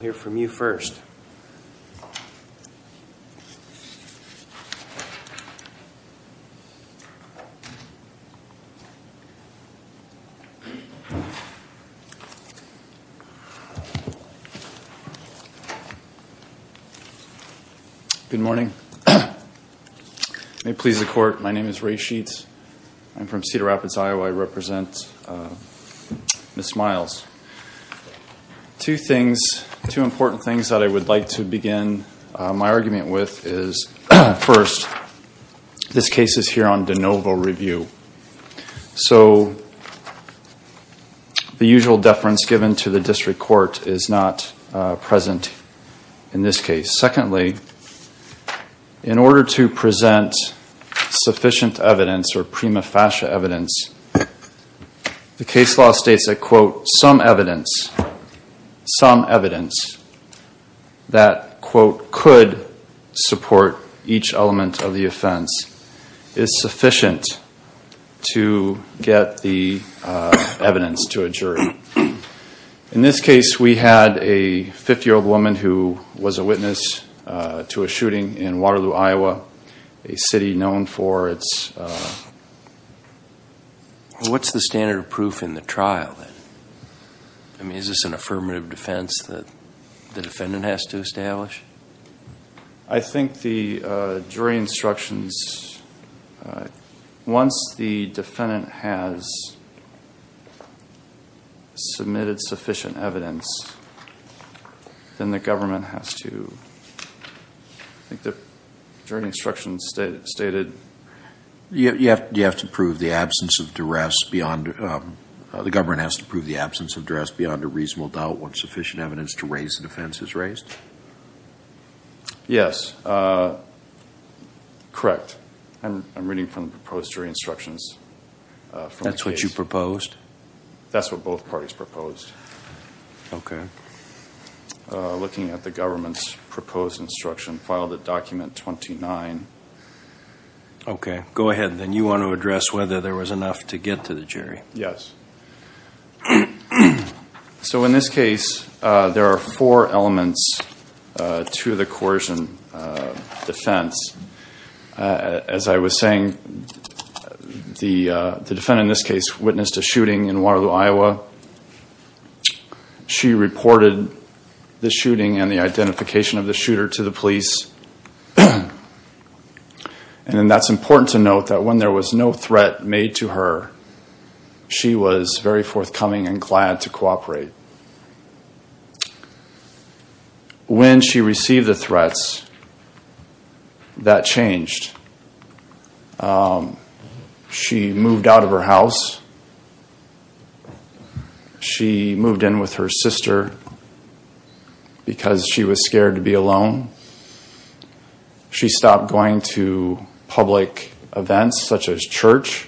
Good morning. May it please the court, my name is Ray Sheets. I'm from Cedar Rapids, two important things that I would like to begin my argument with is first, this case is here on de novo review. So the usual deference given to the district court is not present in this case. Secondly, in order to present sufficient evidence or prima facie evidence, the case law states that, quote, some evidence, some evidence that, quote, could support each element of the offense is sufficient to get the evidence to a jury. In this case, we had a 50 What's the standard of proof in the trial? I mean, is this an affirmative defense that the defendant has to establish? I think the jury instructions, once the defendant has submitted sufficient evidence, then the government has to, I think the jury instructions stated. You have to prove the duress beyond, the government has to prove the absence of duress beyond a reasonable doubt once sufficient evidence to raise the defense is raised? Yes, correct. I'm reading from the proposed jury instructions. That's what you proposed? That's what both parties proposed. Okay. Looking at the government's proposed instruction, file the document 29. Okay, go ahead. Then you want to get to the jury. Yes. So in this case, there are four elements to the coercion defense. As I was saying, the defendant in this case witnessed a shooting in Waterloo, Iowa. She reported the shooting and the identification of the shooter to the police. And that's important to note that when there was no threat made to her, she was very forthcoming and glad to cooperate. When she received the threats, that changed. She moved out of her house. She moved in with her sister because she was church.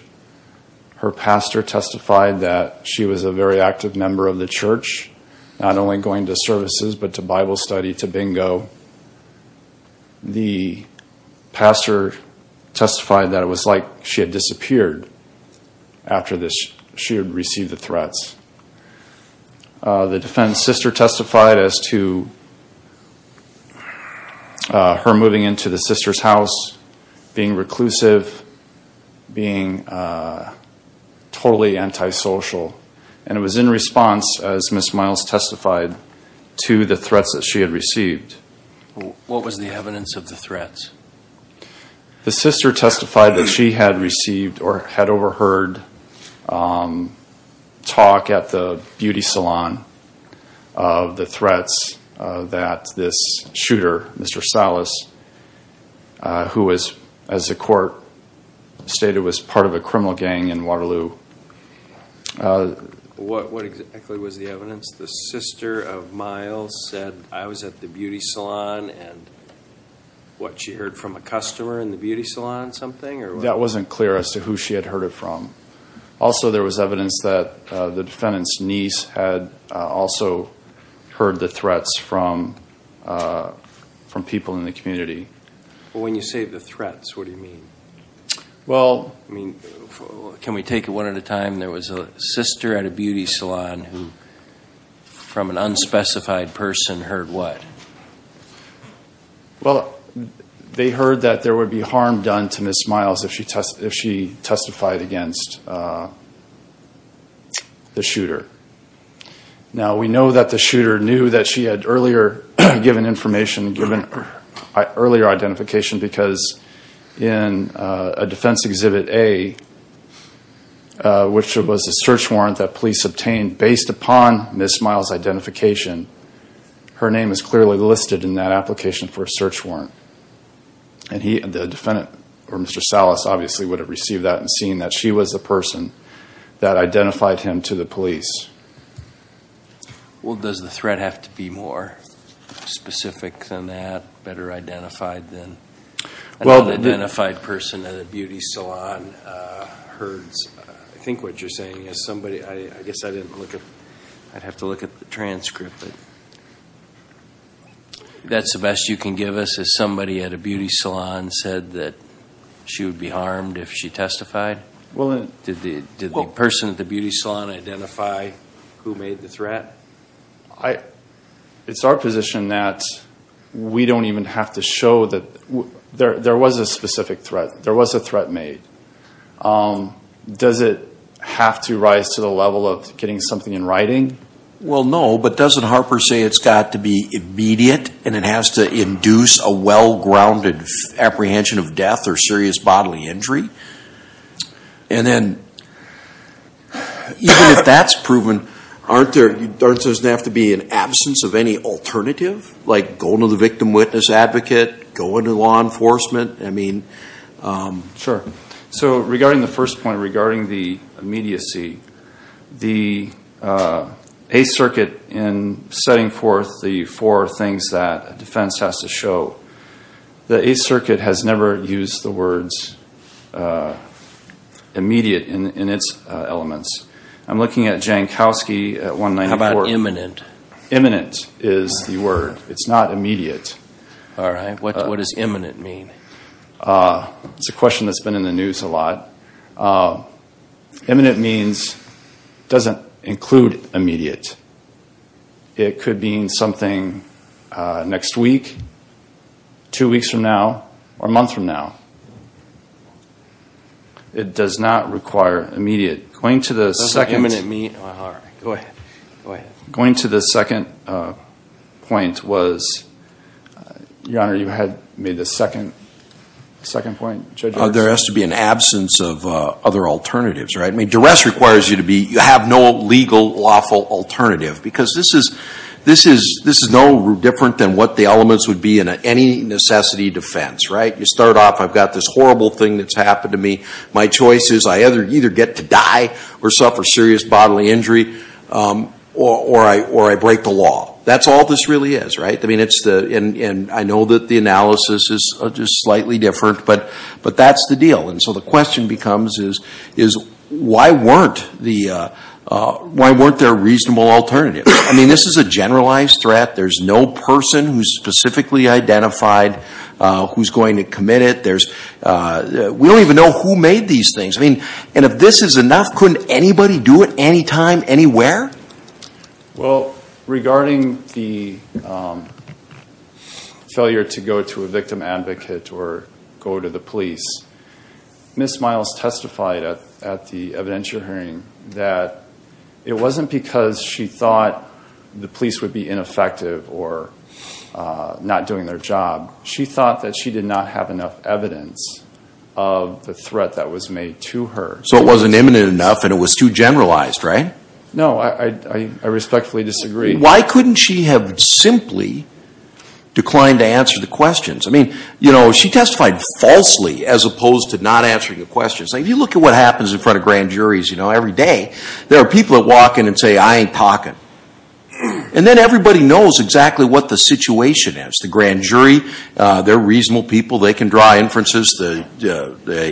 Her pastor testified that she was a very active member of the church, not only going to services, but to Bible study, to bingo. The pastor testified that it was like she had disappeared after she had received the threats. What was the evidence of the threats? The sister testified that she had received or had overheard talk at the court, stated it was part of a criminal gang in Waterloo. What exactly was the evidence? The sister of Miles said, I was at the beauty salon and what, she heard from a customer in the beauty salon or something? That wasn't clear as to who she had heard it from. Also, there was evidence that the defendant's niece had also heard the threats from people in the community. When you say the threats, what do you mean? Well, can we take it one at a time? There was a sister at a beauty salon who, from an unspecified person, heard what? Well, they heard that there would be harm done to Ms. Miles if she testified against the shooter. Now, we know that the shooter knew that she had earlier given information, given earlier identification, because in a defense exhibit A, which was a search warrant that police obtained based upon Ms. Miles' identification, her name is clearly listed in that application for a search warrant. Mr. Salas, obviously, would have received that and seen that she was the person that identified him to the police. Well, does the threat have to be more specific than that, better identified than? Well, the identified person at a beauty salon heard, I think what you're saying is somebody, I guess I didn't look at, I'd have to look at the transcript, but that's the best you can give us, is somebody at a beauty salon identify who made the threat? It's our position that we don't even have to show that there was a specific threat. There was a threat made. Does it have to rise to the level of getting something in writing? Well, no, but doesn't Harper say it's got to be immediate and it has to induce a Even if that's proven, doesn't there have to be an absence of any alternative, like go to the victim witness advocate, go into law enforcement, I mean? Sure. So regarding the first point, regarding the immediacy, the Eighth Circuit in setting forth the four things that a defense has to show, the Eighth I'm looking at Jankowski at 194. How about imminent? Imminent is the word. It's not immediate. All right. What does imminent mean? It's a question that's been in the news a lot. Imminent means it doesn't include immediate. It could mean something next week, two weeks from now, or a month from now. It does not require immediate. Going to the second point was, Your Honor, you had made the second point, Judge Ernst? There has to be an absence of other alternatives, right? I mean, duress requires you to have no legal, lawful alternative because this is no different than what the elements would be in any necessity defense, right? You start off, I've got this horrible thing that's happened to me. My choice is I either get to die or suffer serious bodily injury or I break the law. That's all this really is, right? I mean, it's the, and I know that the analysis is just slightly different, but that's the deal. And so the question becomes is why weren't there reasonable alternatives? I mean, this is a generalized threat. There's no person who's specifically identified who's going to commit it. We don't even know who made these things. I mean, and if this is enough, couldn't anybody do it anytime, anywhere? Well, regarding the failure to go to a victim advocate or go to the police, Ms. Miles testified at the evidence you're hearing that it wasn't because she thought the police would be ineffective or not doing their job. She thought that she did not have enough evidence of the threat that was made to her. So it wasn't imminent enough and it was too generalized, right? No, I respectfully disagree. Why couldn't she have simply declined to answer the questions? I mean, you know, she testified falsely as opposed to not answering the questions. If you look at what happens in front of grand juries, you know, every day, there are people that walk in and say, I ain't talking. And then everybody knows exactly what the situation is. The grand jury, they're reasonable people. They can draw inferences. The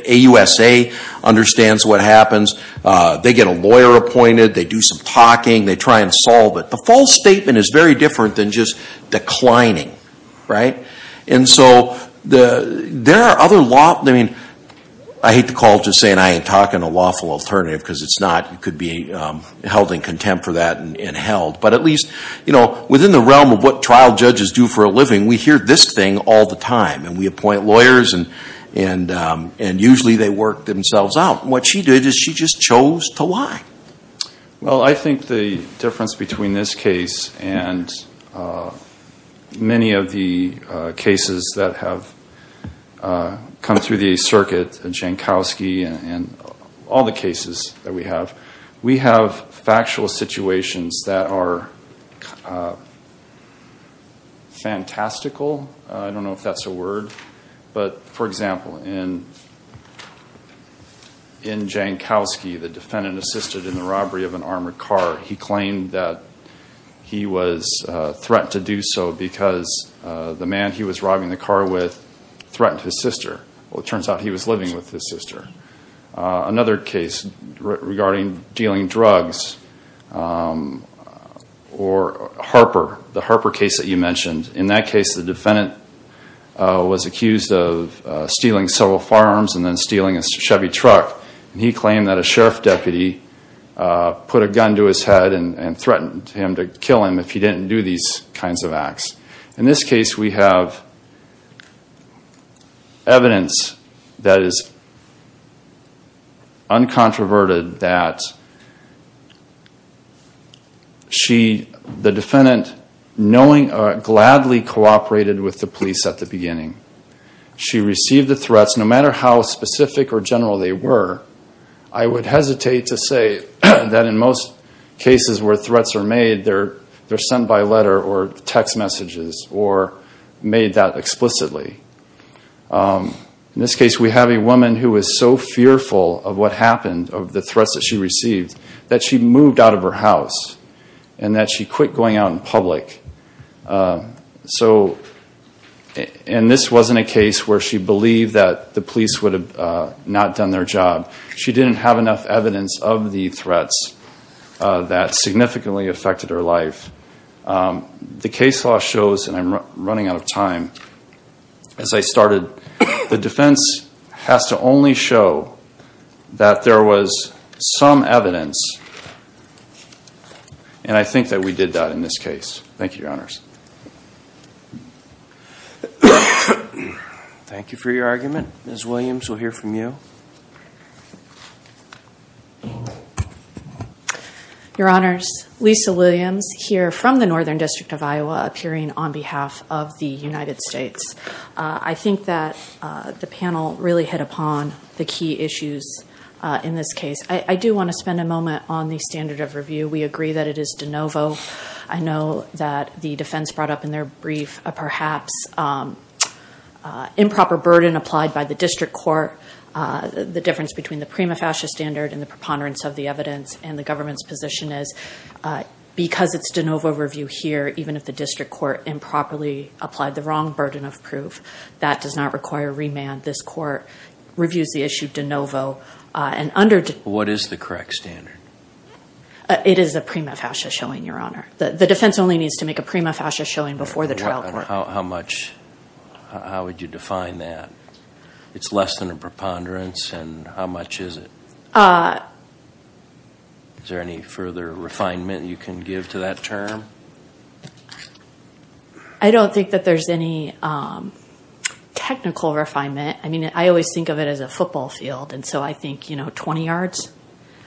AUSA understands what happens. They get a lawyer appointed. They do some talking. They try and solve it. The false statement is very different than just declining, right? And so there are other law, I mean, I hate to call it just saying I ain't talking a lawful alternative because it's not. It could be held in contempt for that and held. But at least, you know, within the realm of what trial judges do for a living, we hear this thing all the time. And we appoint lawyers and usually they work themselves out. What she did is she just chose to lie. Well, I think the difference between this case and many of the cases that have come through the circuit, Jankowski and all the cases that we have, we have factual situations that are fantastical. I don't know if that's a word. But, for example, in Jankowski, the defendant assisted in the robbery of an armored car. He claimed that he was threatened to do so because the man he was robbing the car with threatened his sister. Well, it turns out he was living with his sister. Another case regarding dealing drugs or Harper, the Harper case that you mentioned. In that case, the defendant was accused of stealing several firearms and then stealing a Chevy truck. He claimed that a sheriff deputy put a gun to his head and threatened him to kill him if he didn't do these kinds of acts. In this case, we have evidence that is uncontroverted that the defendant, knowing or gladly cooperated with the police at the beginning. She received the threats, no matter how specific or general they were, I would hesitate to say that in most cases where threats are made, they're sent by letter or text messages. Or made that explicitly. In this case, we have a woman who was so fearful of what happened, of the threats that she received, that she moved out of her house and that she quit going out in public. So, and this wasn't a case where she believed that the police would have not done their job. She didn't have enough evidence of the threats that significantly affected her life. The case law shows, and I'm running out of time, as I started, the defense has to only show that there was some evidence. And I think that we did that in this case. Thank you, Your Honors. Thank you for your argument. Ms. Williams, we'll hear from you. Your Honors, Lisa Williams here from the Northern District of Iowa, appearing on behalf of the United States. I think that the panel really hit upon the key issues in this case. I do want to spend a moment on the standard of review. We agree that it is de novo. I know that the defense brought up in their brief a perhaps improper burden applied by the district court. The difference between the prima facie standard and the preponderance of the evidence and the government's position is because it's de novo review here, even if the district court improperly applied the wrong burden of proof, that does not require remand. This court reviews the issue de novo and under... What is the correct standard? It is a prima facie showing, Your Honor. The defense only needs to make a prima facie showing before the trial court. How much, how would you define that? It's less than a preponderance. And how much is it? Is there any further refinement you can give to that term? I don't think that there's any technical refinement. I mean, I always think of it as a football field. And so I think, you know, 20 yards.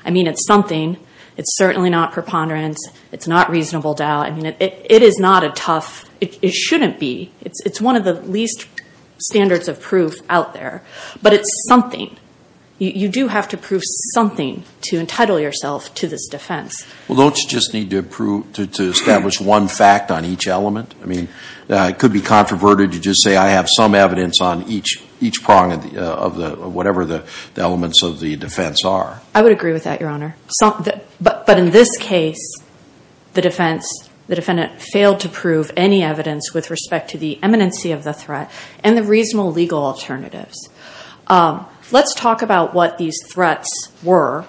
I mean, it's something. It's certainly not preponderance. It's not reasonable doubt. I mean, it is not a tough, it shouldn't be. It's one of the least standards of proof out there, but it's something. You do have to prove something to entitle yourself to this defense. Well, don't you just need to establish one fact on each element? I mean, it could be controverted to just say, I have some evidence on each prong of the, whatever the elements of the defense are. I would agree with that, Your Honor. But in this case, the defendant failed to prove any evidence with respect to the eminency of the threat and the reasonable legal alternatives. Let's talk about what these threats were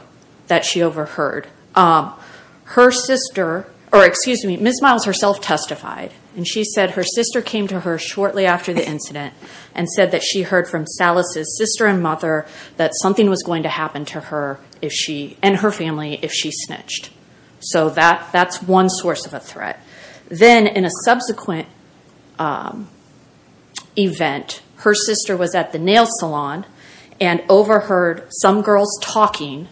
that she overheard. Her sister, or excuse me, Ms. Miles herself testified. And she said her sister came to her shortly after the incident and said that she heard from Salas's sister and mother that something was going to happen to her. If she, and her family, if she snitched. So that's one source of a threat. Then in a subsequent event, her sister was at the nail salon and overheard some girls talking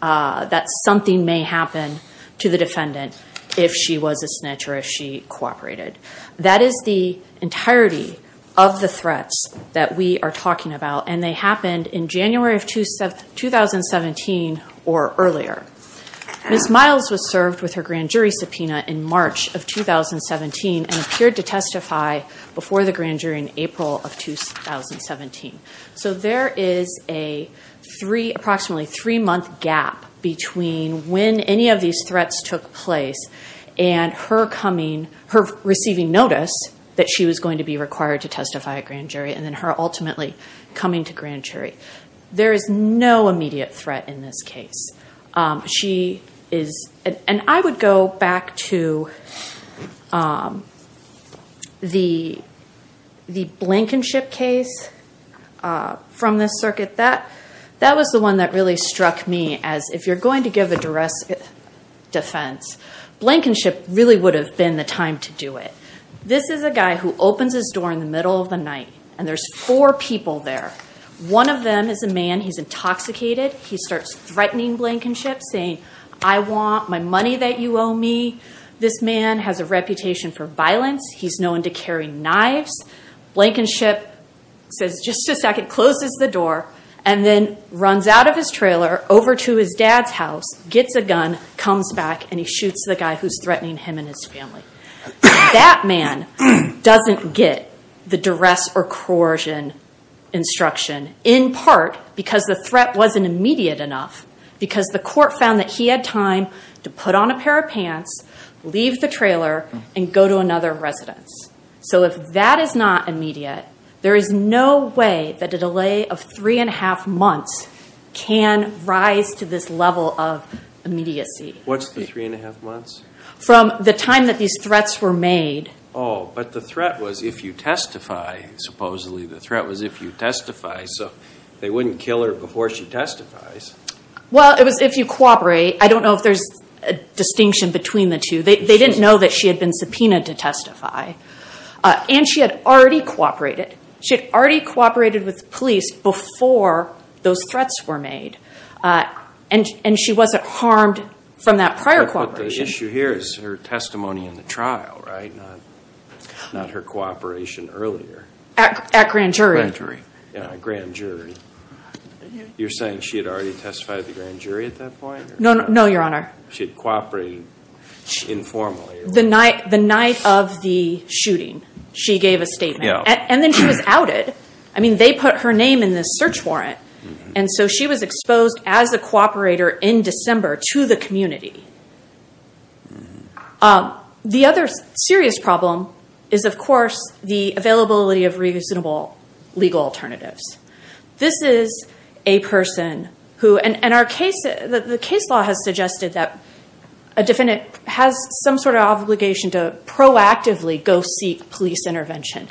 that something may happen to the defendant if she was a snitch or if she cooperated. That is the entirety of the threats that we are talking about. And they happened in January of 2017 or earlier. Ms. Miles was served with her grand jury subpoena in March of 2017 and appeared to testify before the grand jury in April of 2017. So there is a three, approximately three month gap between when any of these threats took place and her coming, her receiving notice that she was going to be required to testify at grand jury. And then her ultimately coming to grand jury. There is no immediate threat in this case. She is, and I would go back to the Blankenship case from this circuit. That was the one that really struck me as if you're going to give a defense, Blankenship really would have been the time to do it. This is a guy who opens his door in the middle of the night and there's four people there. One of them is a man, he's intoxicated. He starts threatening Blankenship saying, I want my money that you owe me. This man has a reputation for violence. He's known to carry knives. Blankenship says, just a second, closes the door and then runs out of his trailer over to his dad's house, gets a gun, comes back and he shoots the guy who's threatening him and his family. That man doesn't get the duress or coercion instruction in part because the threat wasn't immediate enough because the court found that he had time to put on a pair of pants, leave the trailer and go to another residence. So if that is not immediate, there is no way that a delay of three and a half months can rise to this level of immediacy. What's the three and a half months? From the time that these threats were made. Oh, but the threat was if you testify, supposedly the threat was if you testify, so they wouldn't kill her before she testifies. Well, it was if you cooperate. I don't know if there's a distinction between the two. They didn't know that she had been subpoenaed to testify and she had already cooperated. She had already cooperated with police before those threats were made and she wasn't harmed from that prior cooperation. But the issue here is her testimony in the trial, right? Not her cooperation earlier. At grand jury. Grand jury. Yeah, grand jury. You're saying she had already testified at the grand jury at that point? No, no, your honor. She had cooperated informally. The night of the shooting, she gave a statement and then she was outed. I mean, they put her name in this search warrant and so she was exposed as a cooperator in December to the community. The other serious problem is, of course, the availability of reasonable legal alternatives. This is a person who, and the case law has suggested that a defendant has some sort of obligation to proactively go seek police intervention.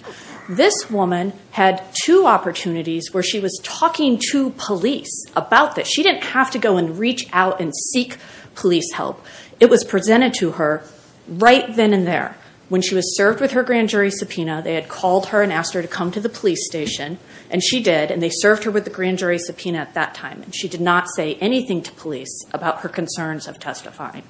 This woman had two opportunities where she was talking to police about this. She didn't have to go and reach out and seek police help. It was presented to her right then and there. When she was served with her grand jury subpoena, they had called her and asked her to come to the police station. And she did. And they served her with the grand jury subpoena at that time. And she did not say anything to police about her concerns of testifying.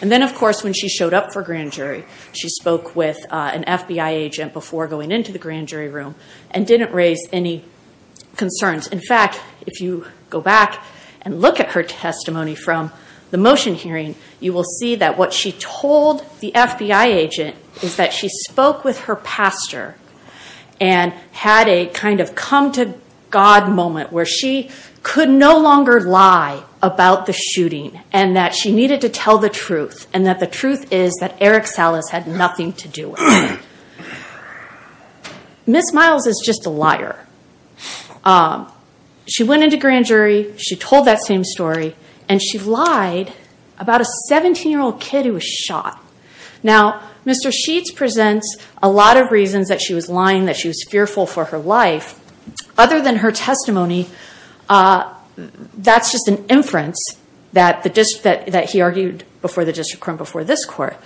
And then, of course, when she showed up for grand jury, she spoke with an FBI agent before going into the grand jury room and didn't raise any concerns. In fact, if you go back and look at her testimony from the motion hearing, you will see that what she told the FBI agent is that she spoke with her pastor and had a kind of come to God moment where she could no longer lie about the shooting and that she needed to tell the truth and that the truth is that Eric Salas had nothing to do with it. Miss Miles is just a liar. She went into grand jury, she told that same story, and she lied about a 17-year-old kid who was shot. Now, Mr. Sheets presents a lot of reasons that she was lying, that she was fearful for her life. Other than her testimony, that's just an inference that he argued before the district court and before this court.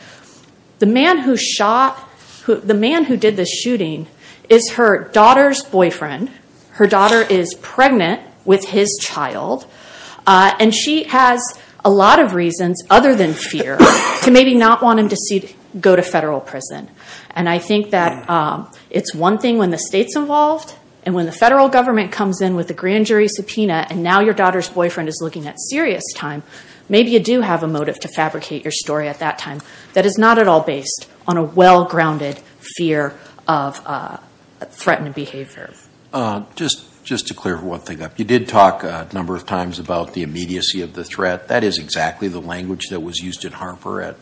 The man who shot, the man who did the shooting is her daughter's boyfriend. Her daughter is pregnant with his child, and she has a lot of reasons, other than fear, to maybe not want him to go to federal prison. And I think that it's one thing when the state's involved and when the federal government comes in with a grand jury subpoena and now your daughter's boyfriend is looking at serious time, maybe you do have a motive to fabricate your story at that time that is not at all based on a well-grounded fear of threatened behavior. Just to clear one thing up, you did talk a number of times about the immediacy of the threat. That is exactly the language that was used in Harper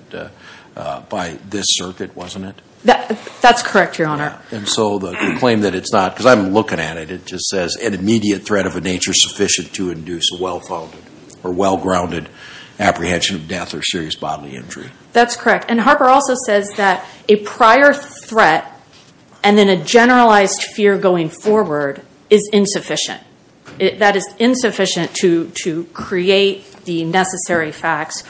by this circuit, wasn't it? That's correct, Your Honor. And so the claim that it's not, because I'm looking at it, it just says an immediate threat of a nature sufficient to induce a well-founded or well-grounded apprehension of death or serious bodily injury. That's correct. And Harper also says that a prior threat and then a generalized fear going forward is insufficient. That is insufficient to create the necessary facts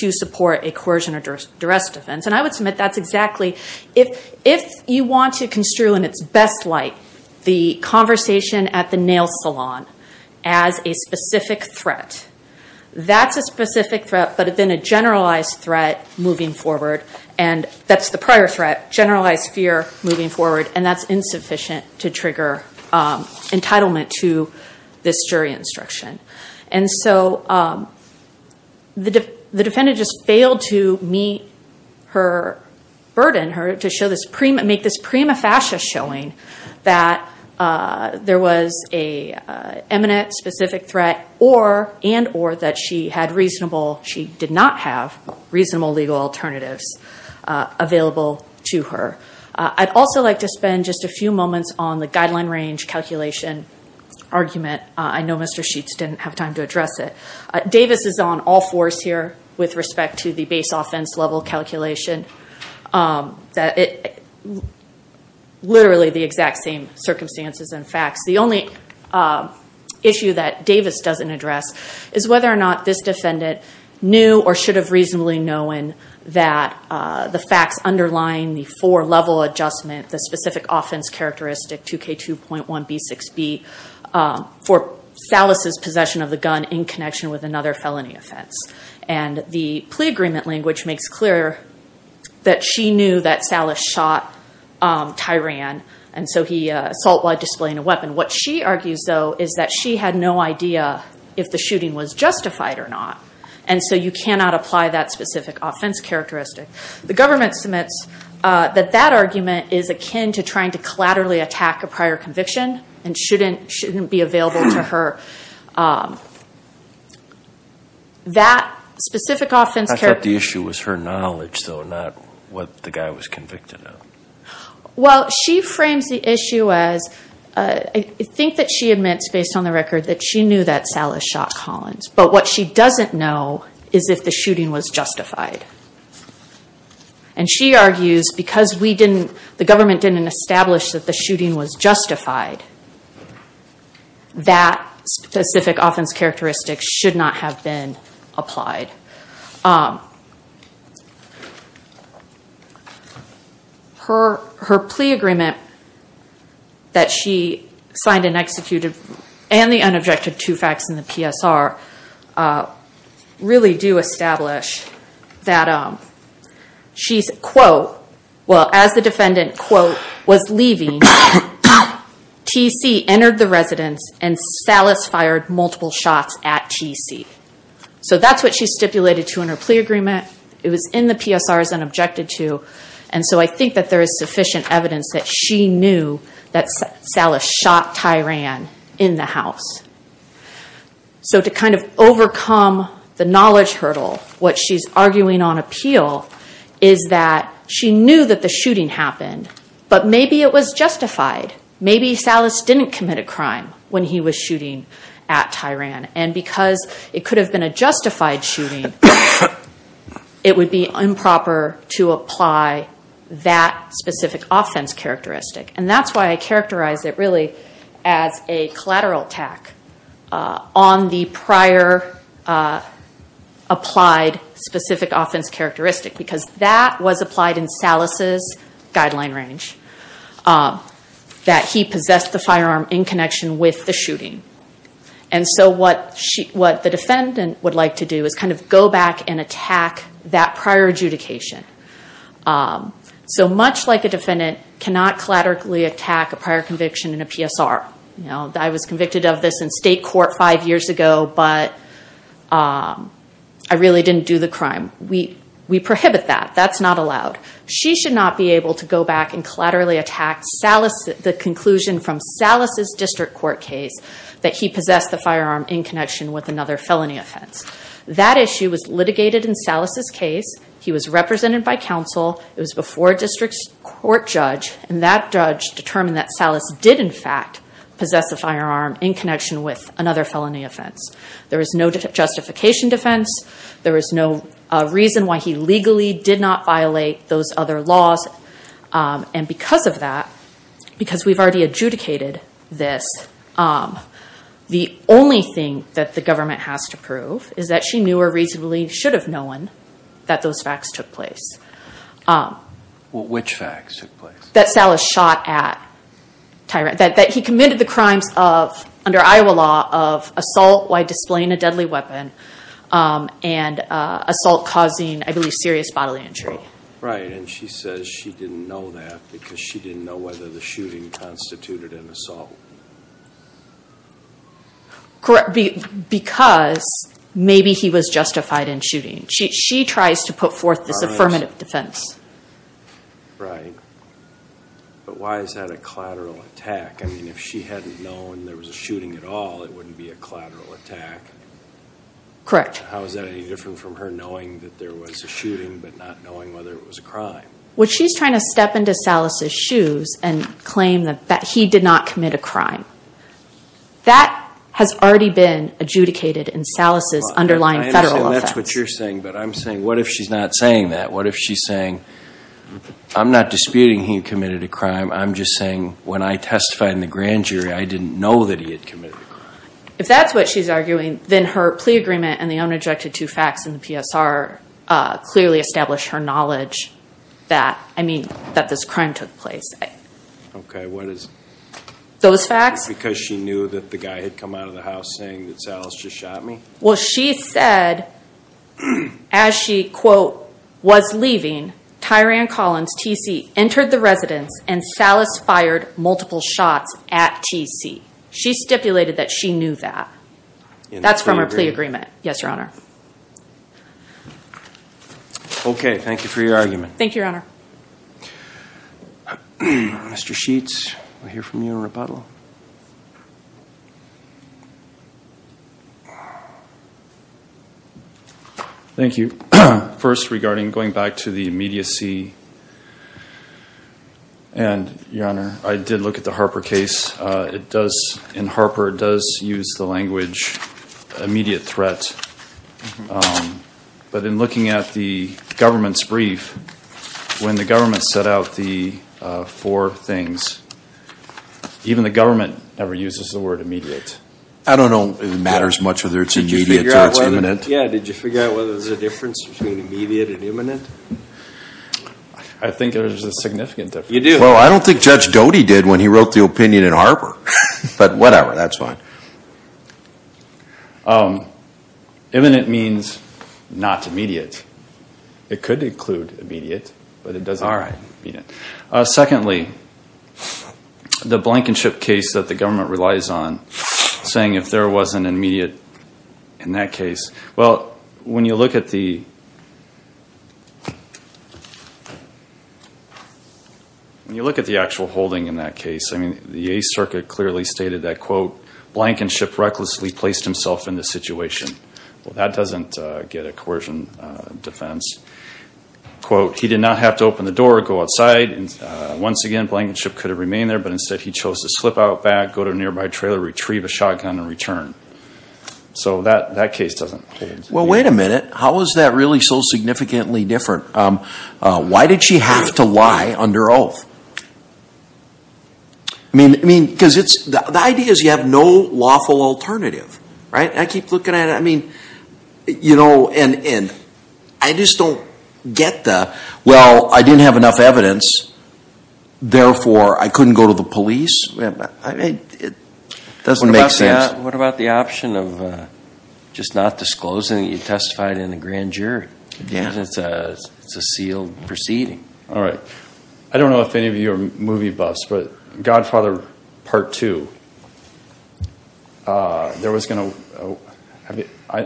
to support a coercion or duress defense. And I would submit that's exactly, if you want to construe in its best light the conversation at the nail salon as a specific threat, that's a specific threat, but then a generalized threat moving forward, and that's the prior threat, generalized fear moving forward, and that's insufficient to trigger entitlement to this jury instruction. And so the defendant just failed to meet her burden, to make this prima facie showing that there was a eminent specific threat and or that she had reasonable, she did not have reasonable legal alternatives available to her. I'd also like to spend just a few moments on the guideline range calculation argument. I know Mr. Sheets didn't have time to address it. Davis is on all fours here with respect to the base offense level calculation. Literally the exact same circumstances and facts. The only issue that Davis doesn't address is whether or not this defendant knew or should have reasonably known that the facts underlying the four level adjustment, the specific offense characteristic 2K2.1B6B for Salas' possession of the gun in connection with another felony offense. And the plea agreement language makes clear that she knew that Salas shot Tyran, and so he assault while displaying a weapon. What she argues, though, is that she had no idea if the shooting was justified or not, and so you cannot apply that specific offense characteristic. The government submits that that argument is akin to trying to collaterally attack a prior conviction and shouldn't be available to her. I thought the issue was her knowledge, though, not what the guy was convicted of. Well, she frames the issue as, I think that she admits based on the record that she knew that Salas shot Collins, but what she doesn't know is if the shooting was justified. And she argues because the government didn't establish that the shooting was justified, that specific offense characteristic 2K2.1B6B was not a valid offense. Specific offense characteristics should not have been applied. Her plea agreement that she signed and executed and the unobjected two facts in the PSR really do establish that she's, quote, well as the defendant, quote, was leaving, T.C. entered the residence and Salas fired multiple shots at T.C. So that's what she stipulated to in her plea agreement. It was in the PSR as an objected to, and so I think that there is sufficient evidence that she knew that Salas shot Tyran in the house. So to kind of overcome the knowledge hurdle, what she's arguing on appeal is that she knew that the shooting happened, but maybe it was justified. Maybe Salas didn't commit a crime when he was shooting at Tyran, and because it could have been a justified shooting, it would be improper to apply that specific offense characteristic. And that's why I characterize it really as a collateral attack on the prior applied specific offense characteristic, because that was applied in Salas's guideline range, that he possessed the firearm in connection with the shooting. And so what the defendant would like to do is kind of go back and attack that prior adjudication. So much like a defendant cannot collaterally attack a prior conviction in a PSR. I was convicted of this in state court five years ago, but I really didn't do the crime. We prohibit that. That's not allowed. She should not be able to go back and collaterally attack the conclusion from Salas's district court case that he possessed the firearm in connection with another felony offense. That issue was litigated in Salas's case. He was represented by counsel. It was before a district court judge, and that judge determined that Salas did in fact possess a firearm in connection with another felony offense. There is no justification defense. There is no reason why he legally did not violate those other laws. And because of that, because we've already adjudicated this, the only thing that the government has to prove is that she knew or reasonably should have known that those facts took place. Well, which facts took place? That Salas shot at Tyrant. That he committed the crimes of, under Iowa law, of assault by assault causing, I believe, serious bodily injury. Right. And she says she didn't know that because she didn't know whether the shooting constituted an assault. Correct. Because maybe he was justified in shooting. She tries to put forth this affirmative defense. Right. But why is that a collateral attack? I mean, if she hadn't known there was a shooting at all, it wouldn't be a collateral attack. Correct. How is that any different from her knowing that there was a shooting but not knowing whether it was a crime? Well, she's trying to step into Salas's shoes and claim that he did not commit a crime. That has already been adjudicated in Salas's underlying federal offense. I understand that's what you're saying, but I'm saying, what if she's not saying that? What if she's saying, I'm not disputing he committed a crime. I'm just saying, when I testified in the grand jury, I didn't know that he had committed a crime. If that's what she's arguing, then her plea agreement and the unobjected two facts in the PSR clearly establish her knowledge that, I mean, that this crime took place. Okay. What is it? Those facts? Because she knew that the guy had come out of the house saying that Salas just shot me? Well, she said, as she, quote, was leaving, Tyran Collins, TC, entered the residence and Salas fired multiple shots at TC. She stipulated that she knew that. That's from her plea agreement. Yes, Your Honor. Okay. Thank you for your argument. Thank you, Your Honor. Mr. Sheets, we'll hear from you in rebuttal. Thank you. First, regarding going back to the immediacy. And Your Honor, I did look at the Harper case. It does, in Harper, it does use the language immediate threat. But in looking at the government's brief, when the government set out the four things, even the government never uses the word immediate. I don't know if it matters much whether it's immediate or it's imminent. Yeah. Did you figure out whether there's a difference between immediate and imminent? I think there's a significant difference. You do? Well, I don't think Judge Doty did when he wrote the opinion in Harper. But whatever, that's fine. Imminent means not immediate. It could include immediate, but it doesn't mean immediate. Secondly, the Blankenship case that the government relies on, saying if there was an immediate in that case. Well, when you look at the actual holding in that case, I mean, the Eighth Circuit clearly stated that, quote, Blankenship recklessly placed himself in this situation. Well, that doesn't get a coercion defense. Quote, he did not have to open the door, go outside. Once again, Blankenship could have remained there, but instead he chose to slip out back, go to a nearby trailer, retrieve a shotgun and return. So that case doesn't. Well, wait a minute. How is that really so significantly different? Why did she have to lie under oath? I mean, because the idea is you have no lawful alternative, right? I keep looking at it. I mean, you know, and I just don't get the, well, I didn't have enough evidence. Therefore, I couldn't go to the police. I mean, it doesn't make sense. What about the option of just not disclosing that you testified in a grand jury? Yeah. Because it's a sealed proceeding. All right. I don't know if any of you are movie buffs, but Godfather Part Two, there was going to, have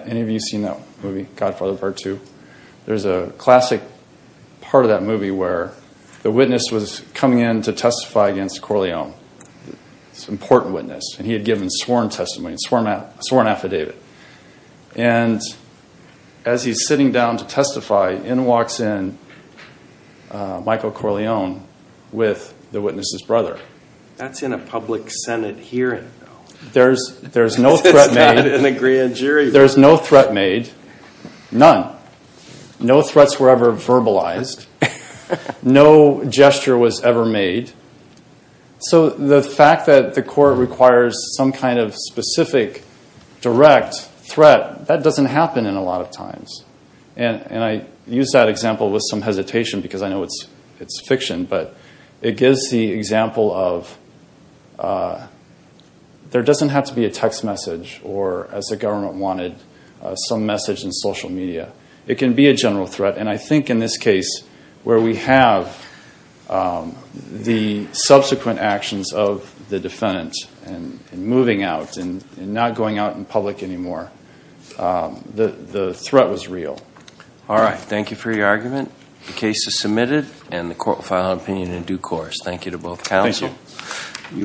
any of you seen that movie? Godfather Part Two. There's a classic part of that movie where the witness was coming in to testify against Corleone. It's an important witness. And he had given sworn testimony, sworn affidavit. And as he's sitting down to testify, in walks in Michael Corleone with the witness's brother. That's in a public Senate hearing, though. There's no threat made in a grand jury. There's no threat made. None. No threats were ever verbalized. No gesture was ever made. So the fact that the court requires some kind of specific direct threat, that doesn't happen in a lot of times. And I use that example with some hesitation because I know it's fiction. But it gives the example of, there doesn't have to be a text message, or as the government wanted, some message in social media. It can be a general threat. And I think in this case, where we have the subsequent actions of the defendant, and moving out, and not going out in public anymore, the threat was real. All right. Thank you for your argument. The case is submitted, and the court will file an opinion in due course. Thank you to both counsel. Thank you.